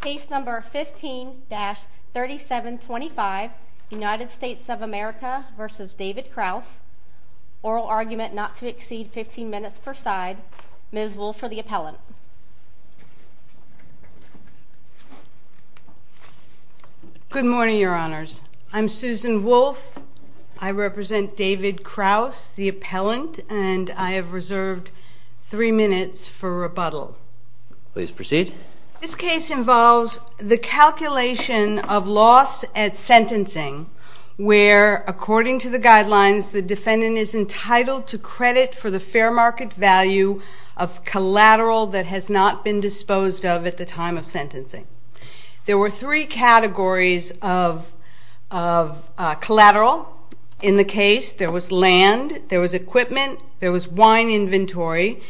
Case number 15-3725, United States of America v. David Kraus, Oral Argument Not to Exceed 15 Minutes per Side, Ms. Wolfe for the appellant. Good morning, your honors. I'm Susan Wolfe. I represent David Kraus, the appellant, and I have This case involves the calculation of loss at sentencing where, according to the guidelines, the defendant is entitled to credit for the fair market value of collateral that has not been disposed of at the time of sentencing. There were three categories of collateral in the case. There was land, there was equipment, there was wine inventory,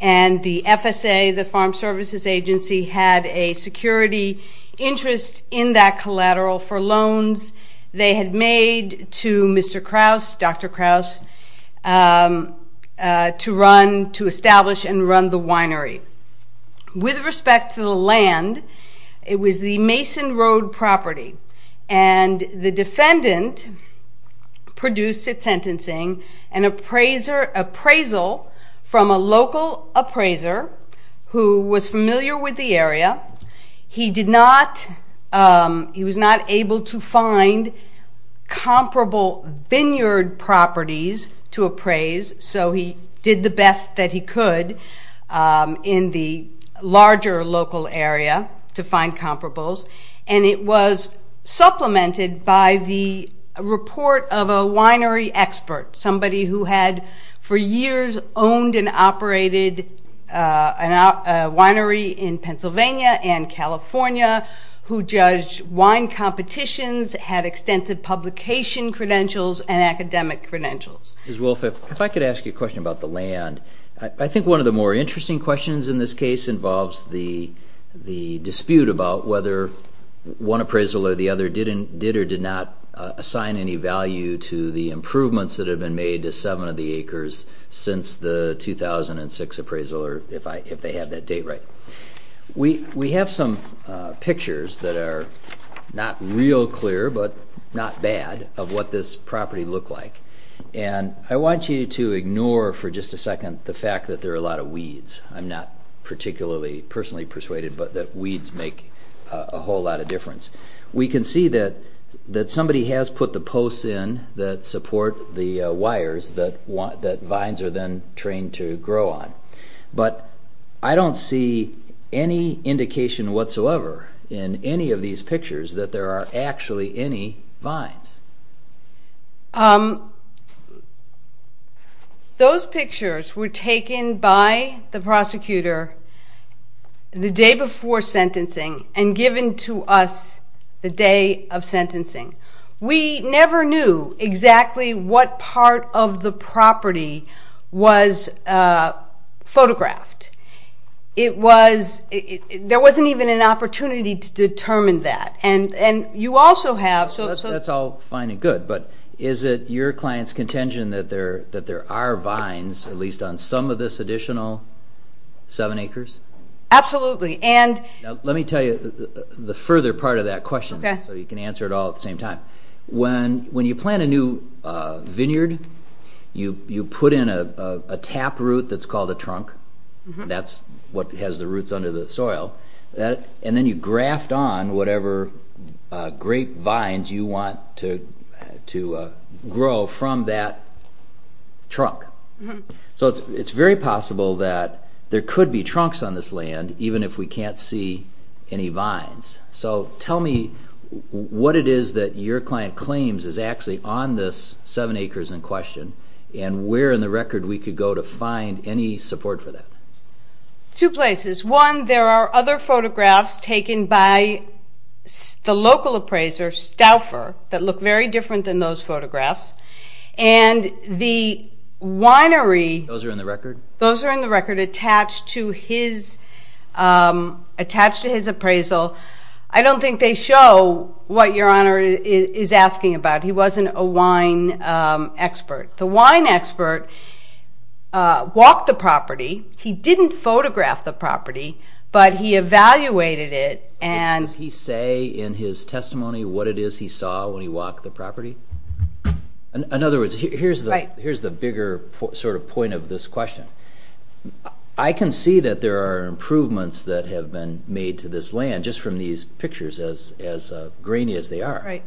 and the FSA, the agency had a security interest in that collateral for loans they had made to Mr. Kraus, Dr. Kraus, to establish and run the winery. With respect to the land, it was the Mason Road property and the defendant produced at sentencing an appraisal from a local appraiser who was familiar with the area. He was not able to find comparable vineyard properties to appraise, so he did the best that he could in the larger local area to find comparables, and it was supplemented by the report of a winery expert, somebody who had for years owned and operated a winery in Pennsylvania and California who judged wine competitions, had extensive publication credentials, and academic credentials. Ms. Wolfe, if I could ask you a question about the land, I think one of the more interesting questions in this case involves the dispute about whether one appraisal or the other did or did not assign any value to the improvements that have been made to seven of the acres since the 2006 appraisal, or if they have that date right. We have some pictures that are not real clear, but not bad, of what this property looked like, and I want you to ignore for just a second the fact that there are a lot of weeds. I'm not particularly personally persuaded, but that weeds make a whole lot of difference. We can see that somebody has put the posts in that support the wires that vines are then trained to grow on, but I don't see any indication whatsoever in any of these pictures that there are actually any vines. Those pictures were taken by the prosecutor the day before sentencing and given to us the day of sentencing. We never knew exactly what part of the property was photographed. There wasn't even an opportunity to determine that. That's all fine and good, but is it your client's contention that there are vines, at least on some of this additional seven acres? Absolutely. Let me tell you the further part of that question, so you can answer it all at the same time. When you plant a new vineyard, you put in a tap root that's called a trunk. That's what has the roots under the soil, and then you graft on whatever grape vines you want to grow from that trunk. It's very possible that there could be trunks on this land, even if we can't see any vines. Tell me what it is that your client claims is actually on this seven acres in question, and where in the record we could go to find any support for that. Two places. One, there are other photographs taken by the local appraiser Stouffer that look very different than those photographs. Those are in the record? Those are in the record attached to his appraisal. I don't think they show what your Honor is asking about. He wasn't a wine expert. The wine expert walked the property. He didn't photograph the property, but he evaluated it. Does he say in his testimony what it is he saw when he walked the property? In other words, here's the bigger sort of point of this question. I can see that there are improvements that have been made to this land just from these pictures, as grainy as they are,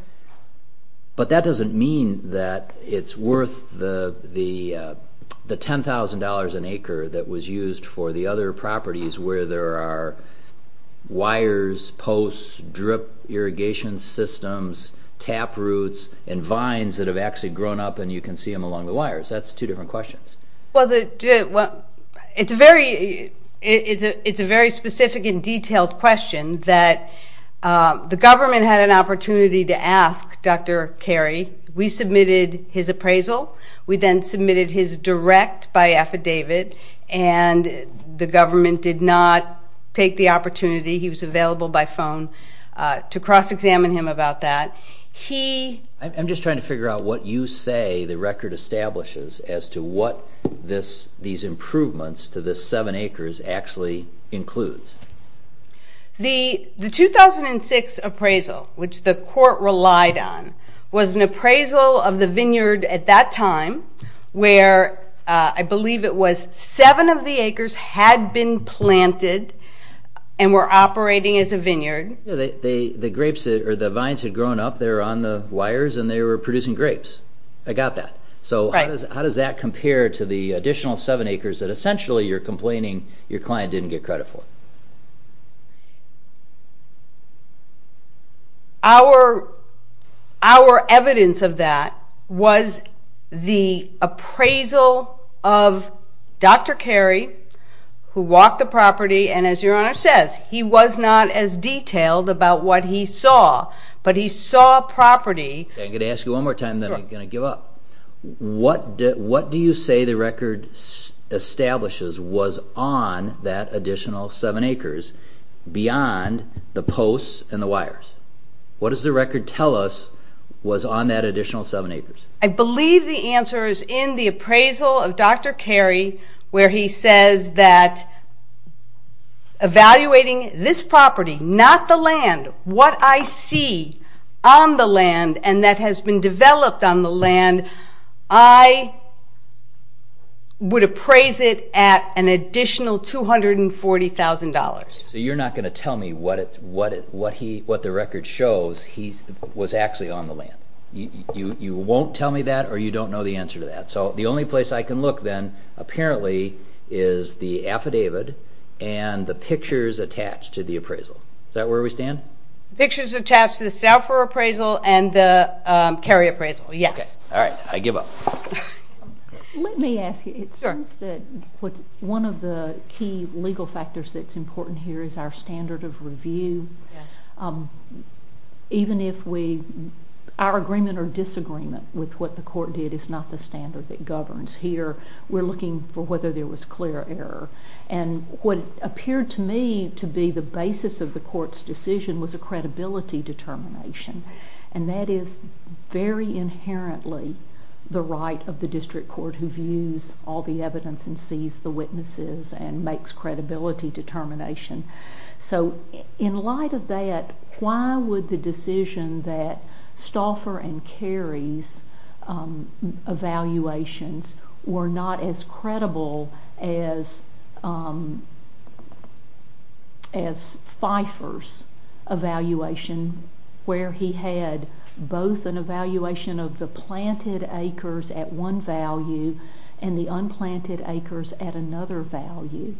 but that doesn't mean that it's worth the $10,000 an acre that was used for the other properties where there are wires, posts, drip irrigation systems, tap roots, and vines that have actually grown up and you can see them along the wires. That's two different questions. Well, it's a very specific and detailed question that the government had an opportunity to ask Dr. Carey. We submitted his appraisal. We then submitted his direct by affidavit, and the government did not take the opportunity. He was available by phone to cross-examine him about that. I'm just trying to figure out what you say the record establishes as to what these improvements to this seven acres actually includes. The 2006 appraisal, which the court relied on, was an appraisal of the vineyard at that time where I believe it was seven of the the grapes or the vines had grown up there on the wires and they were producing grapes. I got that. So how does that compare to the additional seven acres that essentially you're complaining your client didn't get credit for? Our evidence of that was the appraisal of Dr. Carey, who walked the about what he saw, but he saw property. I'm going to ask you one more time then I'm going to give up. What do you say the record establishes was on that additional seven acres beyond the posts and the wires? What does the record tell us was on that additional seven acres? I believe the answer is in the appraisal of Dr. Carey where he says that evaluating this property, not the land, what I see on the land and that has been developed on the land, I would appraise it at an additional $240,000. So you're not going to tell me what the record shows he was actually on the land. You won't tell me that or you don't know the answer to that. So the only place I can look then apparently is the affidavit and the pictures attached to the appraisal. Is that where we stand? Pictures attached to the Salfer appraisal and the Carey appraisal, yes. All right, I give up. Let me ask you, one of the key legal factors that's important here is our standard of review. Even if we, our agreement or disagreement with what the court did is not the standard that governs here. We're looking for whether there was clear error. And what appeared to me to be the basis of the court's decision was a credibility determination. And that is very inherently the right of the district court who views all the evidence and sees the witnesses and makes credibility determination. So in light of that, why would the decision that Stauffer and Carey's evaluations were not as credible as Pfeiffer's evaluation where he had both an evaluation of the planted acres at one value and the unplanted acres at another value?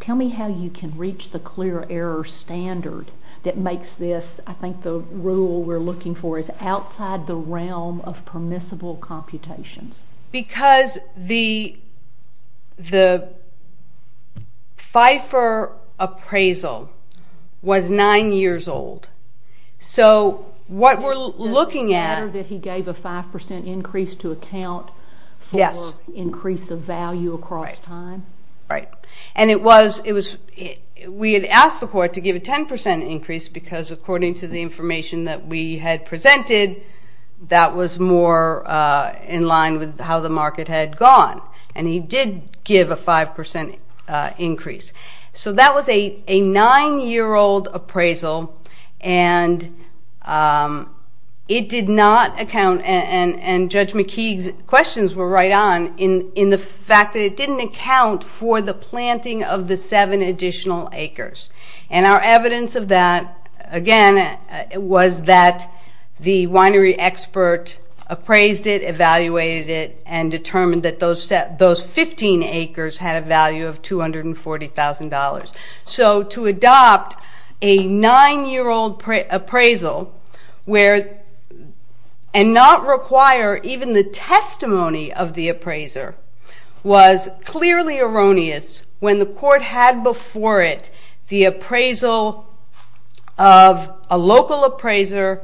Tell me how you can reach the clear error standard that makes this, I think the rule we're looking for, is outside the realm of permissible computations. Because the Pfeiffer appraisal was nine years old. So what we're looking at... Does it matter that he gave a 5% increase to account for increase of value across time? Right. And it was, we had asked the court to give a 10% increase because according to the information that we had presented, that was more in line with how the market had gone. And he did give a 5% increase. So that was a nine-year-old appraisal and it did not account, and Judge McKeague's questions were right on, in the fact that it didn't account for the planting of the seven additional acres. And our evidence of that, again, was that the winery expert appraised it, evaluated it, and determined that those 15 acres had a value of $240,000. So to adopt a nine-year-old appraisal where, and not require even the testimony of the appraiser, was clearly erroneous when the court had before it the appraisal of a local appraiser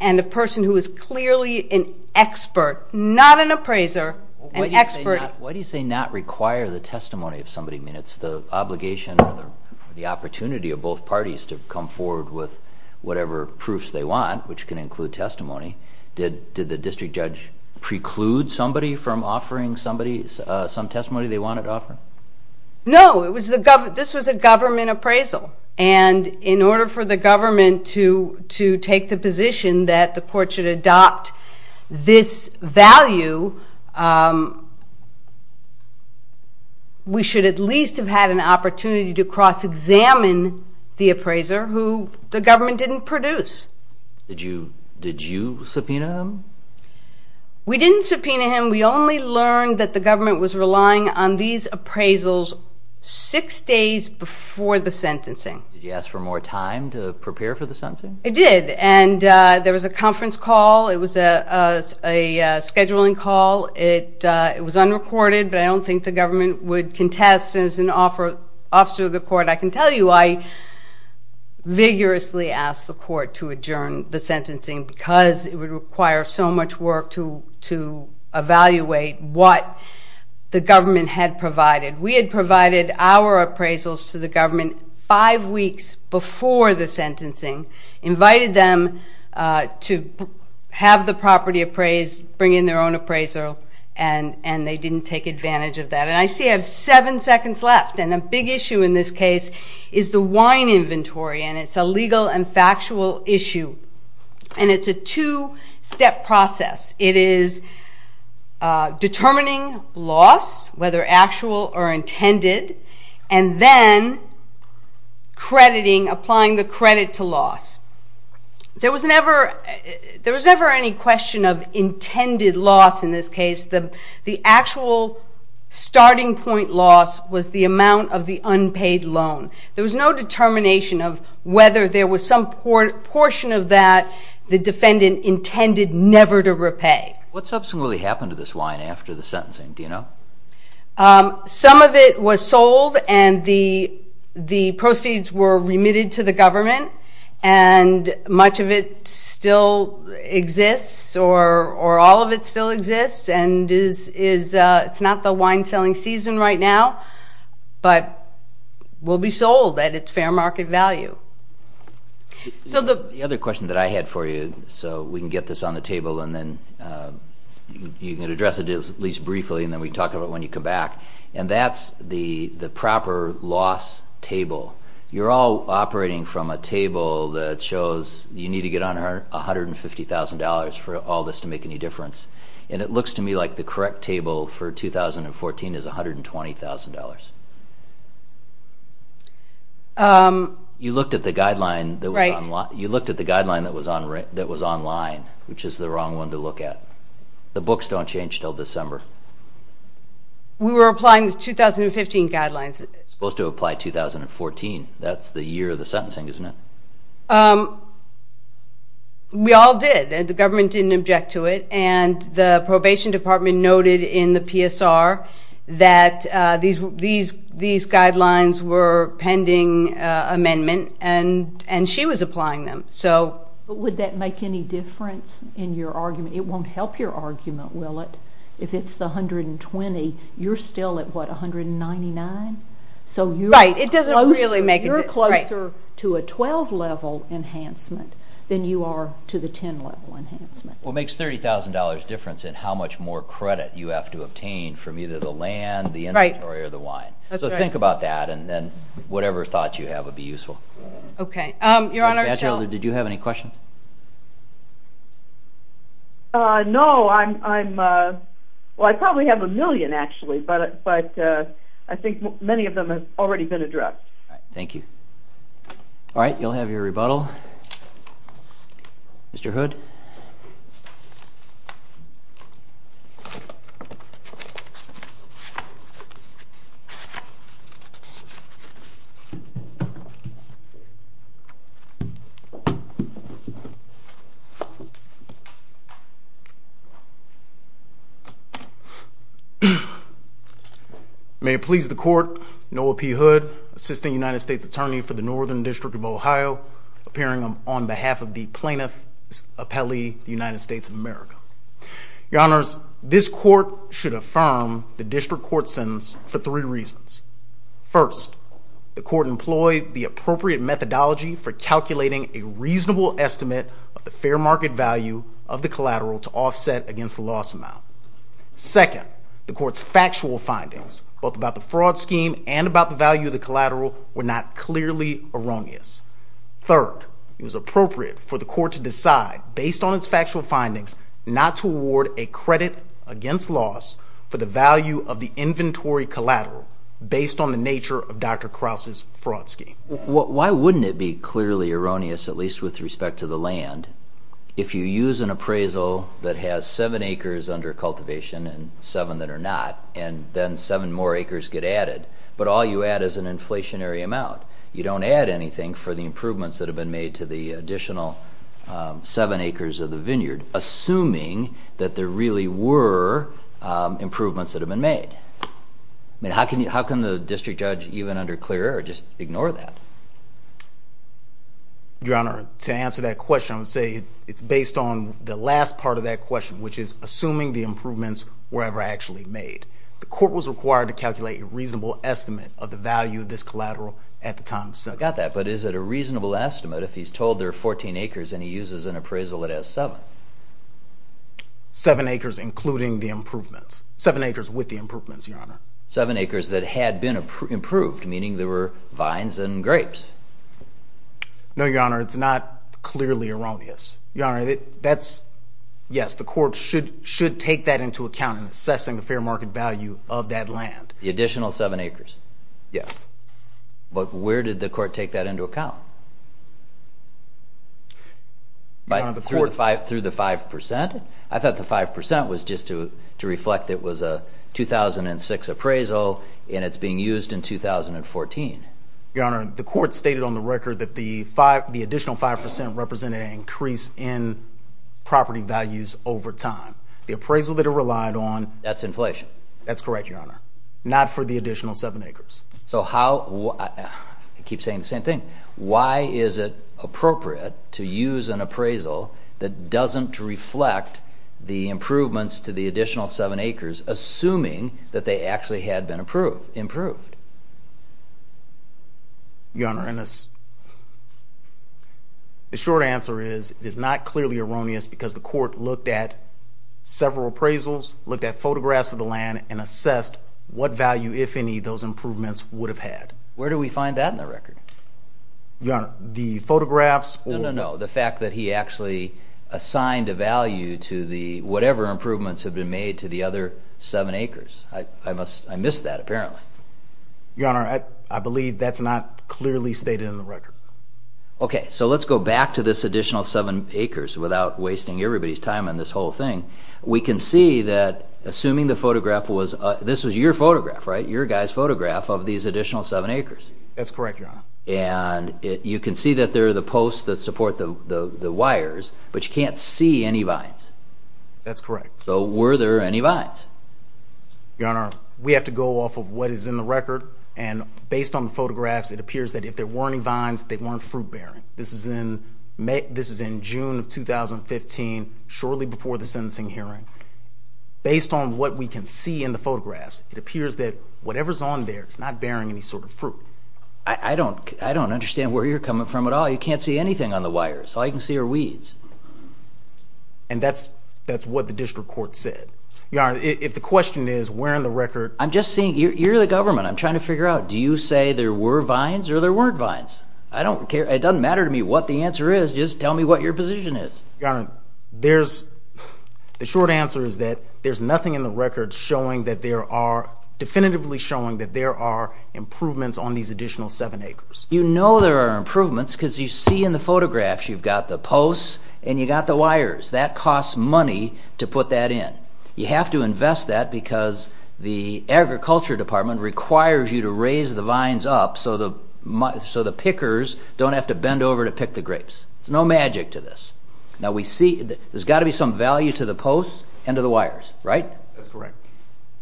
and a person who is clearly an expert, not an appraiser, an expert... Why do you say not require the testimony of somebody? I mean, it's the obligation or the reward with whatever proofs they want, which can include testimony. Did the district judge preclude somebody from offering somebody some testimony they wanted to offer? No, this was a government appraisal. And in order for the government to take the position that the court should adopt this value, we should at least have had an opportunity to the government didn't produce. Did you subpoena him? We didn't subpoena him. We only learned that the government was relying on these appraisals six days before the sentencing. Did you ask for more time to prepare for the sentencing? I did. And there was a conference call. It was a scheduling call. It was unrecorded, but I don't think the government would contest as an officer of the court. I can tell you I vigorously asked the court to adjourn the sentencing because it would require so much work to evaluate what the government had provided. We had provided our appraisals to the government five weeks before the sentencing, invited them to have the property appraised, bring in their own appraiser, and they didn't take advantage of that. And I see I have seven seconds left, and a big issue in this case is the wine inventory, and it's a legal and factual issue. And it's a two-step process. It is determining loss, whether actual or intended, and then crediting, applying the credit to loss. There was never any question of intended loss in this case. The actual starting point loss was the amount of the unpaid loan. There was no determination of whether there was some portion of that the defendant intended never to repay. What subsequently happened to this wine after the sentencing, do you know? Some of it was sold, and the proceeds were remitted to the government, and much of it still exists, or all of it still exists, and it's not the wine-selling season right now, but will be sold at its fair market value. So the other question that I had for you, so we can get this on the table and then you can address it at least briefly, and then we can talk about it when you come back, and that's the proper loss table. You're all operating from a table that shows you need to get on $150,000 for all this to make any difference, and it looks to me like the correct table for 2014 is $120,000. You looked at the guideline that was online, which is the wrong one to look at. The books don't change until December. We were applying the 2015 guidelines. It's supposed to apply 2014. That's the year of the sentencing, isn't it? We all did, and the government didn't object to it, and the probation department noted in the PSR that these guidelines were pending amendment, and she was applying them. But would that make any difference in your argument? It won't help your argument, will it? If it's the $120,000, you're still at, what, $199,000? Right. It doesn't really make a difference. You're closer to a 12-level enhancement than you are to the 10-level enhancement. Well, it makes $30,000 difference in how much more credit you have to obtain from either the land, the inventory, or the wine. Right. That's right. So think about that, and then whatever thought you have would be useful. Okay. Your Honor, so... Judge Elder, did you have any questions? No, I'm... Well, I probably have a million, actually, but I think many of them have already been addressed. Thank you. All right, you'll have your rebuttal. Mr. Hood? May it please the Court, Noah P. Hood, Assistant United States Attorney for the Northern District of Ohio, appearing on behalf of the Plaintiff's Appellee, United States of America. Your Honors, this Court should affirm the District Court sentence for three reasons. First, the Court employed the appropriate methodology for calculating a reasonable estimate of the fair market value of the collateral to offset against the loss amount. Second, the Court's factual findings, both about the fraud scheme and about the value of the collateral, were not clearly erroneous. Third, it was appropriate for the Court to decide, based on its factual findings, not to award a credit against loss for the value of the inventory collateral, based on the nature of Dr. Krause's fraud scheme. Why wouldn't it be clearly erroneous, at least with respect to the land, if you use an appraisal that has seven acres under cultivation and seven that are not, and then seven more acres get added, but all you add is an inflationary amount? You don't add anything for the improvements that have been made to the additional seven acres of the vineyard, assuming that there really were improvements that have been made. I mean, how can the District Judge, even under clear error, just ignore that? Your Honor, to answer that question, I would say it's based on the last part of that question, which is assuming the improvements were ever actually made. The Court was required to calculate a reasonable estimate of the value of this collateral at the time of sentencing. I got that, but is it a reasonable estimate if he's told there are 14 acres and he uses an appraisal that has seven? Seven acres, including the improvements. Seven acres with the improvements, Your Honor. Seven acres that had been improved, meaning there were vines and grapes. No, Your Honor, it's not clearly erroneous. Your Honor, yes, the Court should take that into account in assessing the fair market value of that land. The additional seven acres? Yes. But where did the Court take that into account? Your Honor, the Court... Through the 5%? I thought the 5% was just to reflect it was a 2006 appraisal and it's being used in 2014. Your Honor, the Court stated on the record that the additional 5% represented an increase in property values over time. The appraisal that it relied on... That's inflation. That's correct, Your Honor. Not for the additional seven acres. I keep saying the same thing. Why is it appropriate to use an appraisal that doesn't reflect the improvements to the additional seven acres, assuming that they actually had been improved? Your Honor, the short answer is it is not clearly erroneous because the Court looked at several appraisals, looked at photographs of the land, and assessed what value, if any, those improvements would have had. Where do we find that in the record? Your Honor, the photographs or... Your Honor, I believe that's not clearly stated in the record. Okay, so let's go back to this additional seven acres without wasting everybody's time on this whole thing. We can see that, assuming the photograph was... This was your photograph, right? Your guy's photograph of these additional seven acres. That's correct, Your Honor. And you can see that there are the posts that support the wires, but you can't see any vines. That's correct. So were there any vines? Your Honor, we have to go off of what is in the record, and based on the photographs, it appears that if there weren't any vines, they weren't fruit-bearing. This is in June of 2015, shortly before the sentencing hearing. Based on what we can see in the photographs, it appears that whatever's on there is not bearing any sort of fruit. I don't understand where you're coming from at all. You can't see anything on the wires. All you can see are weeds. And that's what the district court said. Your Honor, if the question is, where in the record... I'm just saying, you're the government. I'm trying to figure out, do you say there were vines or there weren't vines? I don't care. It doesn't matter to me what the answer is. Just tell me what your position is. Your Honor, there's... The short answer is that there's nothing in the record showing that there are... definitively showing that there are improvements on these additional seven acres. You know there are improvements because you see in the photographs, you've got the posts and you've got the wires. That costs money to put that in. You have to invest that because the agriculture department requires you to raise the vines up so the pickers don't have to bend over to pick the grapes. There's no magic to this. Now we see, there's got to be some value to the posts and to the wires, right? That's correct.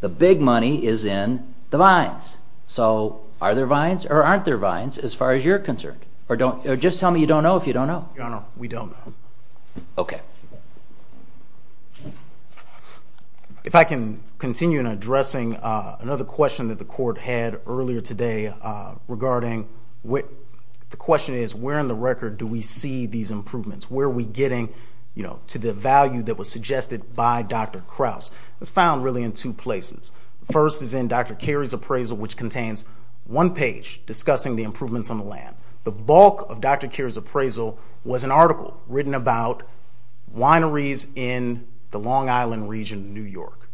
The big money is in the vines. So are there vines or aren't there vines as far as you're concerned? Or just tell me you don't know if you don't know. Your Honor, we don't know. Okay. If I can continue in addressing another question that the court had earlier today regarding... The question is where in the record do we see these improvements? Where are we getting to the value that was suggested by Dr. Krause? It's found really in two places. The first is in Dr. Carey's appraisal which contains one page discussing the improvements on the land. The bulk of Dr. Carey's appraisal was an article written about wineries in the Long Island region of New York.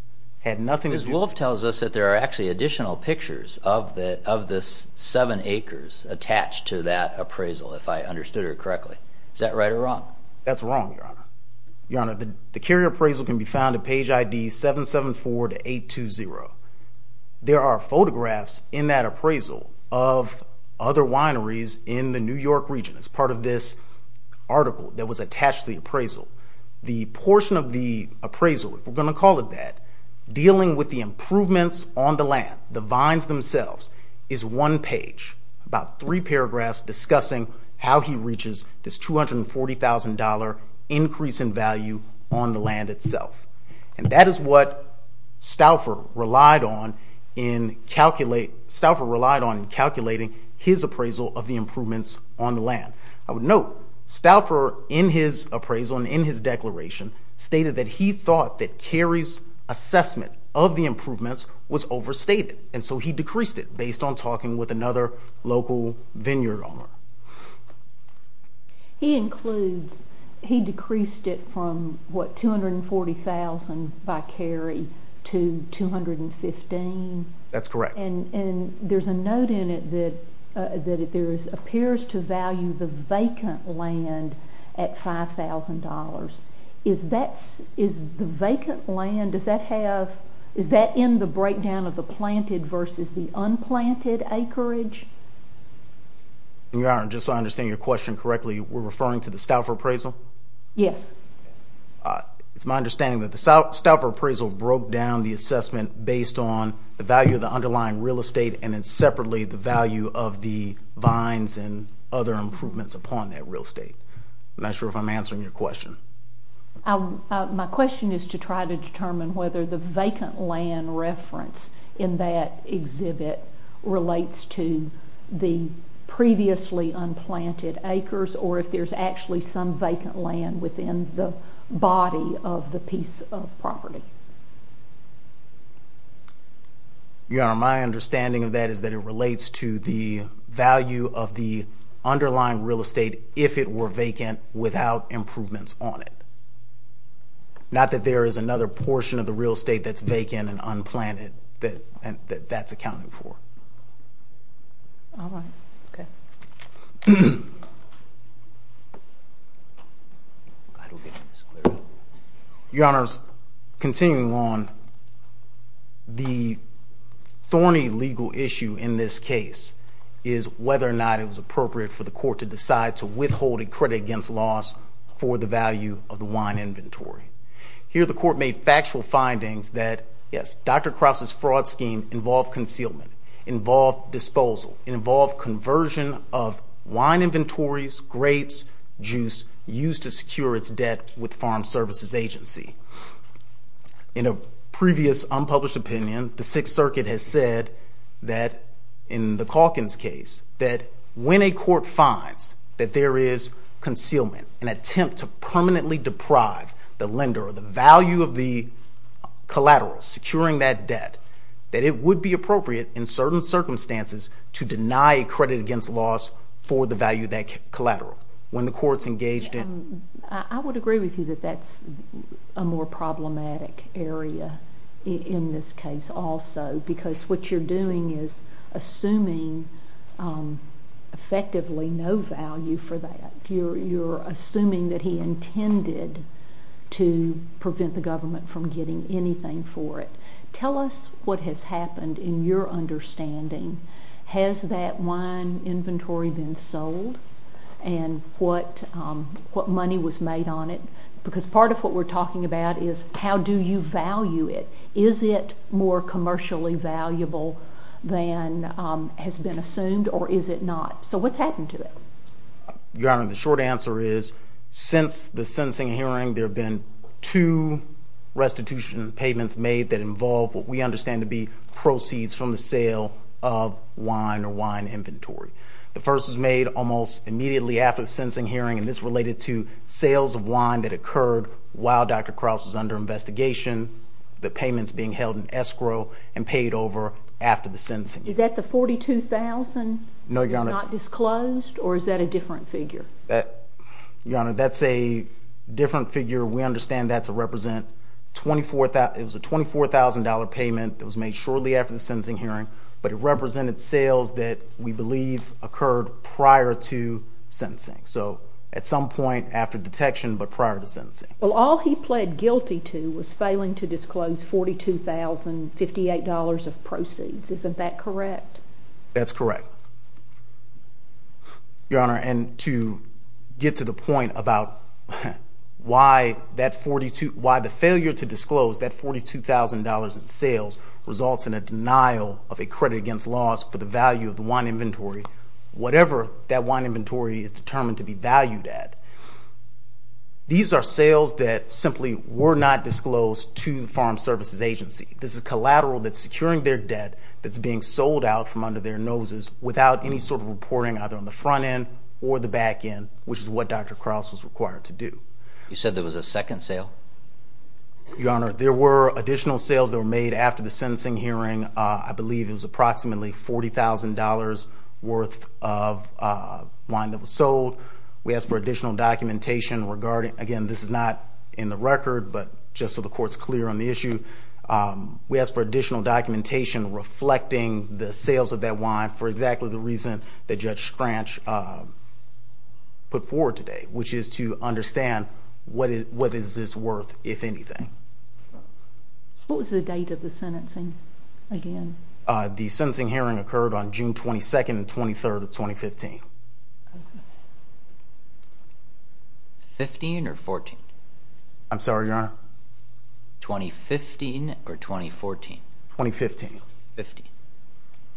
It had nothing to do... Ms. Wolfe tells us that there are actually additional pictures of the seven acres attached to that appraisal, if I understood her correctly. Is that right or wrong? That's wrong, Your Honor. Your Honor, the Carey appraisal can be found at page ID 774-820. There are photographs in that appraisal of other wineries in the New York region. It's part of this article that was attached to the appraisal. The portion of the appraisal, if we're going to call it that, dealing with the improvements on the land, the vines themselves, is one page, about three paragraphs, discussing how he reaches this $240,000 increase in value on the land itself. And that is what Stauffer relied on in calculating his appraisal of the improvements on the land. I would note, Stauffer, in his appraisal and in his declaration, stated that he thought that Carey's assessment of the improvements was overstated, and so he decreased it based on talking with another local vineyard owner. He includes, he decreased it from, what, $240,000 by Carey to $215,000? That's correct. And there's a note in it that it appears to value the vacant land at $5,000. Is that, is the vacant land, does that have, is that in the breakdown of the planted versus the unplanted acreage? Your Honor, just so I understand your question correctly, we're referring to the Stauffer appraisal? Yes. It's my understanding that the Stauffer appraisal broke down the assessment based on the value of the underlying real estate and then separately the value of the vines and other improvements upon that real estate. I'm not sure if I'm answering your question. My question is to try to determine whether the vacant land reference in that exhibit relates to the previously unplanted acres or if there's actually some vacant land within the body of the piece of property. Your Honor, my understanding of that is that it relates to the value of the underlying real estate if it were vacant without improvements on it. Not that there is another portion of the real estate that's vacant and unplanted that that's accounted for. All right. Okay. Your Honors, continuing on, the thorny legal issue in this case is whether or not it was appropriate for the court to decide to withhold a credit against loss for the value of the wine inventory. Here the court made factual findings that, yes, Dr. Krause's fraud scheme involved concealment, involved disposal, involved conversion of wine inventories, grapes, juice used to secure its debt with Farm Services Agency. In a previous unpublished opinion, the Sixth Circuit has said that in the Calkins case, that when a court finds that there is concealment, an attempt to permanently deprive the lender of the value of the collateral securing that debt, that it would be appropriate in certain circumstances to deny a credit against loss for the value of that collateral when the court's engaged in... I would agree with you that that's a more problematic area in this case also because what you're doing is assuming effectively no value for that. You're assuming that he intended to prevent the government from getting anything for it. Tell us what has happened in your understanding. Has that wine inventory been sold and what money was made on it? Because part of what we're talking about is how do you value it? Is it more commercially valuable than has been assumed or is it not? So what's happened to it? Your Honor, the short answer is since the sentencing hearing, there have been two restitution payments made that involve what we understand to be proceeds from the sale of wine or wine inventory. The first was made almost immediately after the sentencing hearing, and this related to sales of wine that occurred while Dr. Krause was under investigation. The payment's being held in escrow and paid over after the sentencing hearing. Is that the $42,000 that was not disclosed or is that a different figure? Your Honor, that's a different figure. We understand that to represent $24,000. It was a $24,000 payment that was made shortly after the sentencing hearing, but it represented sales that we believe occurred prior to sentencing. So at some point after detection but prior to sentencing. Well, all he pled guilty to was failing to disclose $42,058 of proceeds. Isn't that correct? That's correct. Your Honor, and to get to the point about why the failure to disclose that $42,000 in sales results in a denial of a credit against loss for the value of the wine inventory, whatever that wine inventory is determined to be valued at. These are sales that simply were not disclosed to the Farm Services Agency. This is collateral that's securing their debt that's being sold out from under their noses without any sort of reporting either on the front end or the back end, which is what Dr. Krause was required to do. You said there was a second sale? Your Honor, there were additional sales that were made after the sentencing hearing. I believe it was approximately $40,000 worth of wine that was sold. We asked for additional documentation regarding, again, this is not in the record, but just so the Court's clear on the issue. We asked for additional documentation reflecting the sales of that wine for exactly the reason that Judge Scranch put forward today, which is to understand what is this worth, if anything. What was the date of the sentencing again? The sentencing hearing occurred on June 22nd and 23rd of 2015. Fifteen or fourteen? I'm sorry, Your Honor? Twenty-fifteen or twenty-fourteen? Twenty-fifteen. Fifteen.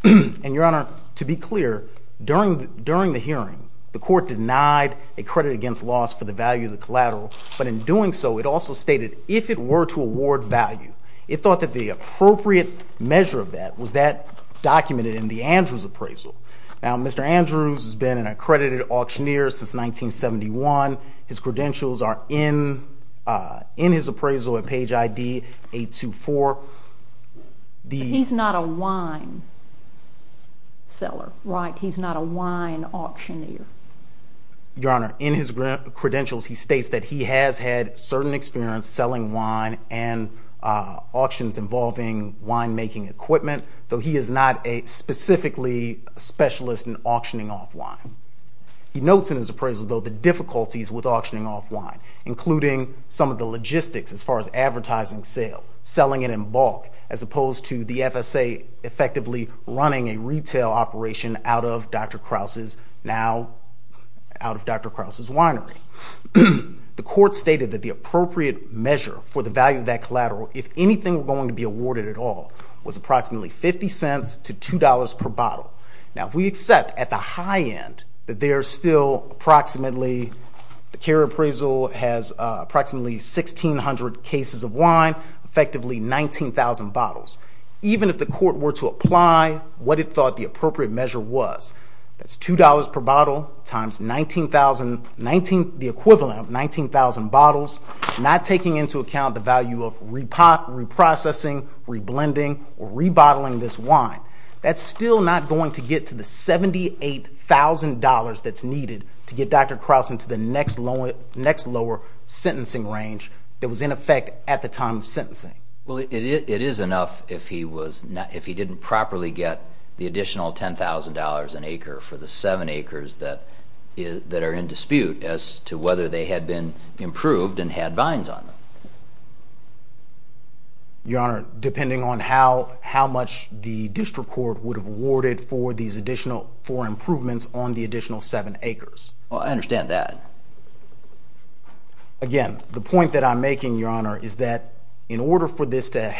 And, Your Honor, to be clear, during the hearing, the Court denied a credit against loss for the value of the collateral, but in doing so it also stated if it were to award value. It thought that the appropriate measure of that was that documented in the Andrews appraisal. Now, Mr. Andrews has been an accredited auctioneer since 1971. His credentials are in his appraisal at page ID 824. But he's not a wine seller, right? He's not a wine auctioneer. Your Honor, in his credentials he states that he has had certain experience selling wine and auctions involving winemaking equipment, though he is not a specifically specialist in auctioning off wine. He notes in his appraisal, though, the difficulties with auctioning off wine, including some of the logistics as far as advertising sale, selling it in bulk as opposed to the FSA effectively running a retail operation out of Dr. Krause's winery. The Court stated that the appropriate measure for the value of that collateral, if anything were going to be awarded at all, was approximately $0.50 to $2 per bottle. Now, if we accept at the high end that there are still approximately, the carrier appraisal has approximately 1,600 cases of wine, effectively 19,000 bottles, even if the Court were to apply what it thought the appropriate measure was. That's $2 per bottle times 19,000, the equivalent of 19,000 bottles, not taking into account the value of reprocessing, reblending, or re-bottling this wine. That's still not going to get to the $78,000 that's needed to get Dr. Krause into the next lower sentencing range that was in effect at the time of sentencing. Well, it is enough if he didn't properly get the additional $10,000 an acre for the seven acres that are in dispute as to whether they had been improved and had vines on them. Your Honor, depending on how much the District Court would have awarded for improvements on the additional seven acres. Well, I understand that. Again, the point that I'm making, Your Honor, is that in order for this to,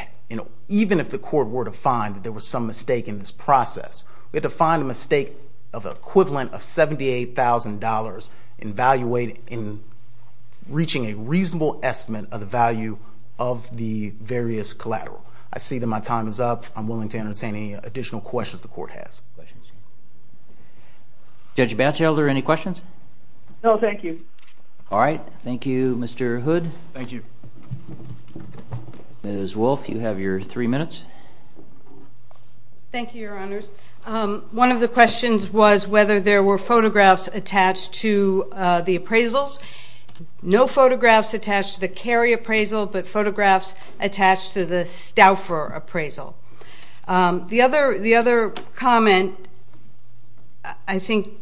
even if the Court were to find that there was some mistake in this process, we had to find a mistake of the equivalent of $78,000 in reaching a reasonable estimate of the value of the various collateral. I see that my time is up. I'm willing to entertain any additional questions the Court has. Judge Batchelder, any questions? No, thank you. All right. Thank you, Mr. Hood. Thank you. Ms. Wolfe, you have your three minutes. Thank you, Your Honors. One of the questions was whether there were photographs attached to the appraisals. No photographs attached to the Cary appraisal, but photographs attached to the Stauffer appraisal. The other comment, I think Judge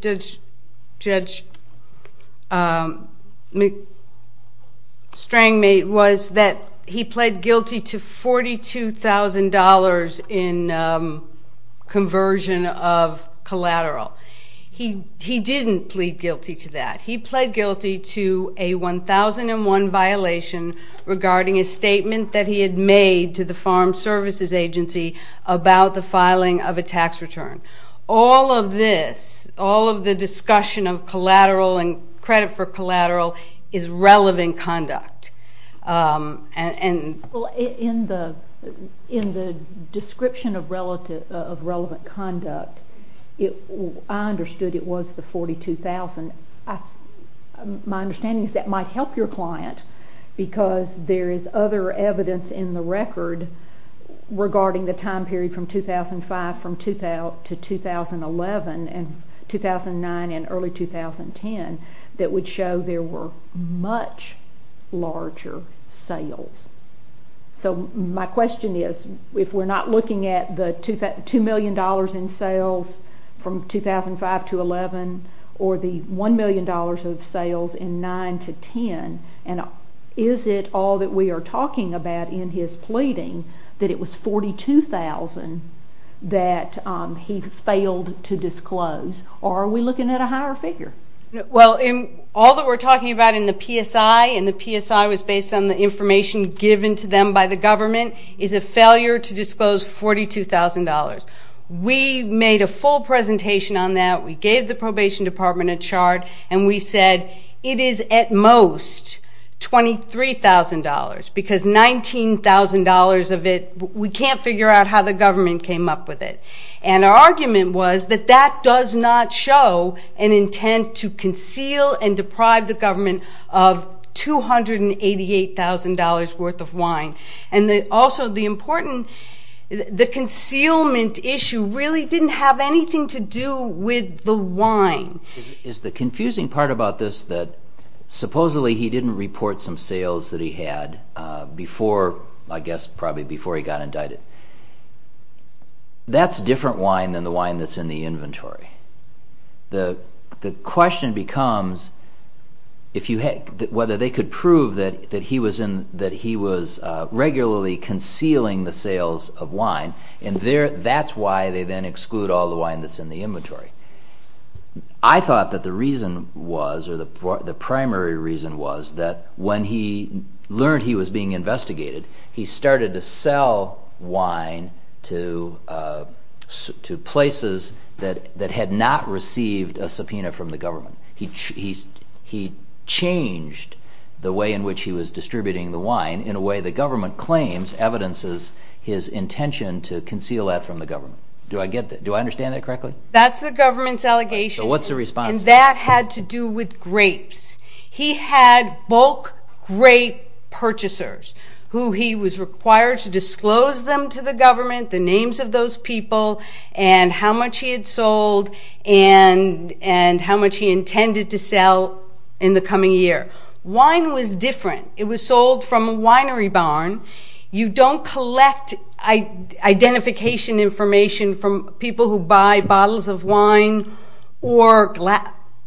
Strang made, was that he pled guilty to $42,000 in conversion of collateral. He didn't plead guilty to that. He pled guilty to a 1001 violation regarding a statement that he had made to the Farm Services Agency about the filing of a tax return. All of this, all of the discussion of collateral and credit for collateral is relevant conduct. In the description of relevant conduct, I understood it was the $42,000. My understanding is that might help your client because there is other evidence in the record regarding the time period from 2005 to 2011 and 2009 and early 2010 that would show there were much larger sales. My question is, if we're not looking at the $2 million in sales from 2005 to 2011 or the $1 million of sales in 2009 to 2010, is it all that we are talking about in his pleading that it was $42,000 that he failed to disclose, or are we looking at a higher figure? Well, all that we're talking about in the PSI, and the PSI was based on the information given to them by the government, is a failure to disclose $42,000. We made a full presentation on that. We gave the Probation Department a chart, and we said it is at most $23,000 because $19,000 of it, we can't figure out how the government came up with it. And our argument was that that does not show an intent to conceal and deprive the government of $288,000 worth of wine. And also the important, the concealment issue really didn't have anything to do with the wine. Is the confusing part about this that supposedly he didn't report some sales that he had before, I guess, probably before he got indicted? That's different wine than the wine that's in the inventory. The question becomes whether they could prove that he was regularly concealing the sales of wine, and that's why they then exclude all the wine that's in the inventory. I thought that the reason was, or the primary reason was, that when he learned he was being investigated, he started to sell wine to places that had not received a subpoena from the government. He changed the way in which he was distributing the wine in a way the government claims evidences his intention to conceal that from the government. Do I understand that correctly? That's the government's allegation. So what's the response? And that had to do with grapes. He had bulk grape purchasers who he was required to disclose them to the government, the names of those people, and how much he had sold, and how much he intended to sell in the coming year. Wine was different. It was sold from a winery barn. You don't collect identification information from people who buy bottles of wine or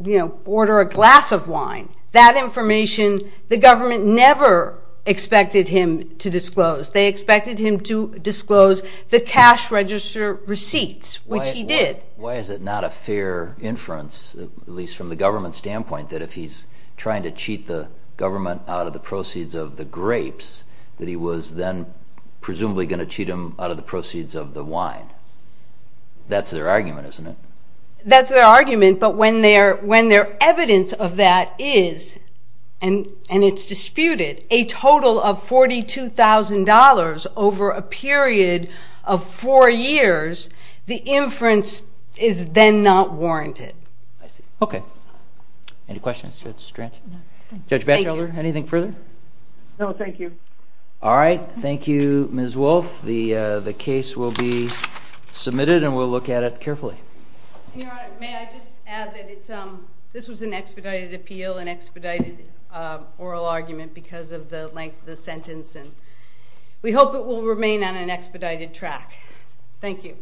order a glass of wine. That information, the government never expected him to disclose. They expected him to disclose the cash register receipts, which he did. Why is it not a fair inference, at least from the government's standpoint, that if he's trying to cheat the government out of the proceeds of the grapes, that he was then presumably going to cheat them out of the proceeds of the wine? That's their argument, isn't it? That's their argument, but when their evidence of that is, and it's disputed, a total of $42,000 over a period of four years, the inference is then not warranted. I see. Okay. Any questions? Judge Batchelder, anything further? No, thank you. All right. Thank you, Ms. Wolfe. The case will be submitted, and we'll look at it carefully. Your Honor, may I just add that this was an expedited appeal, an expedited oral argument because of the length of the sentence, and we hope it will remain on an expedited track. Thank you.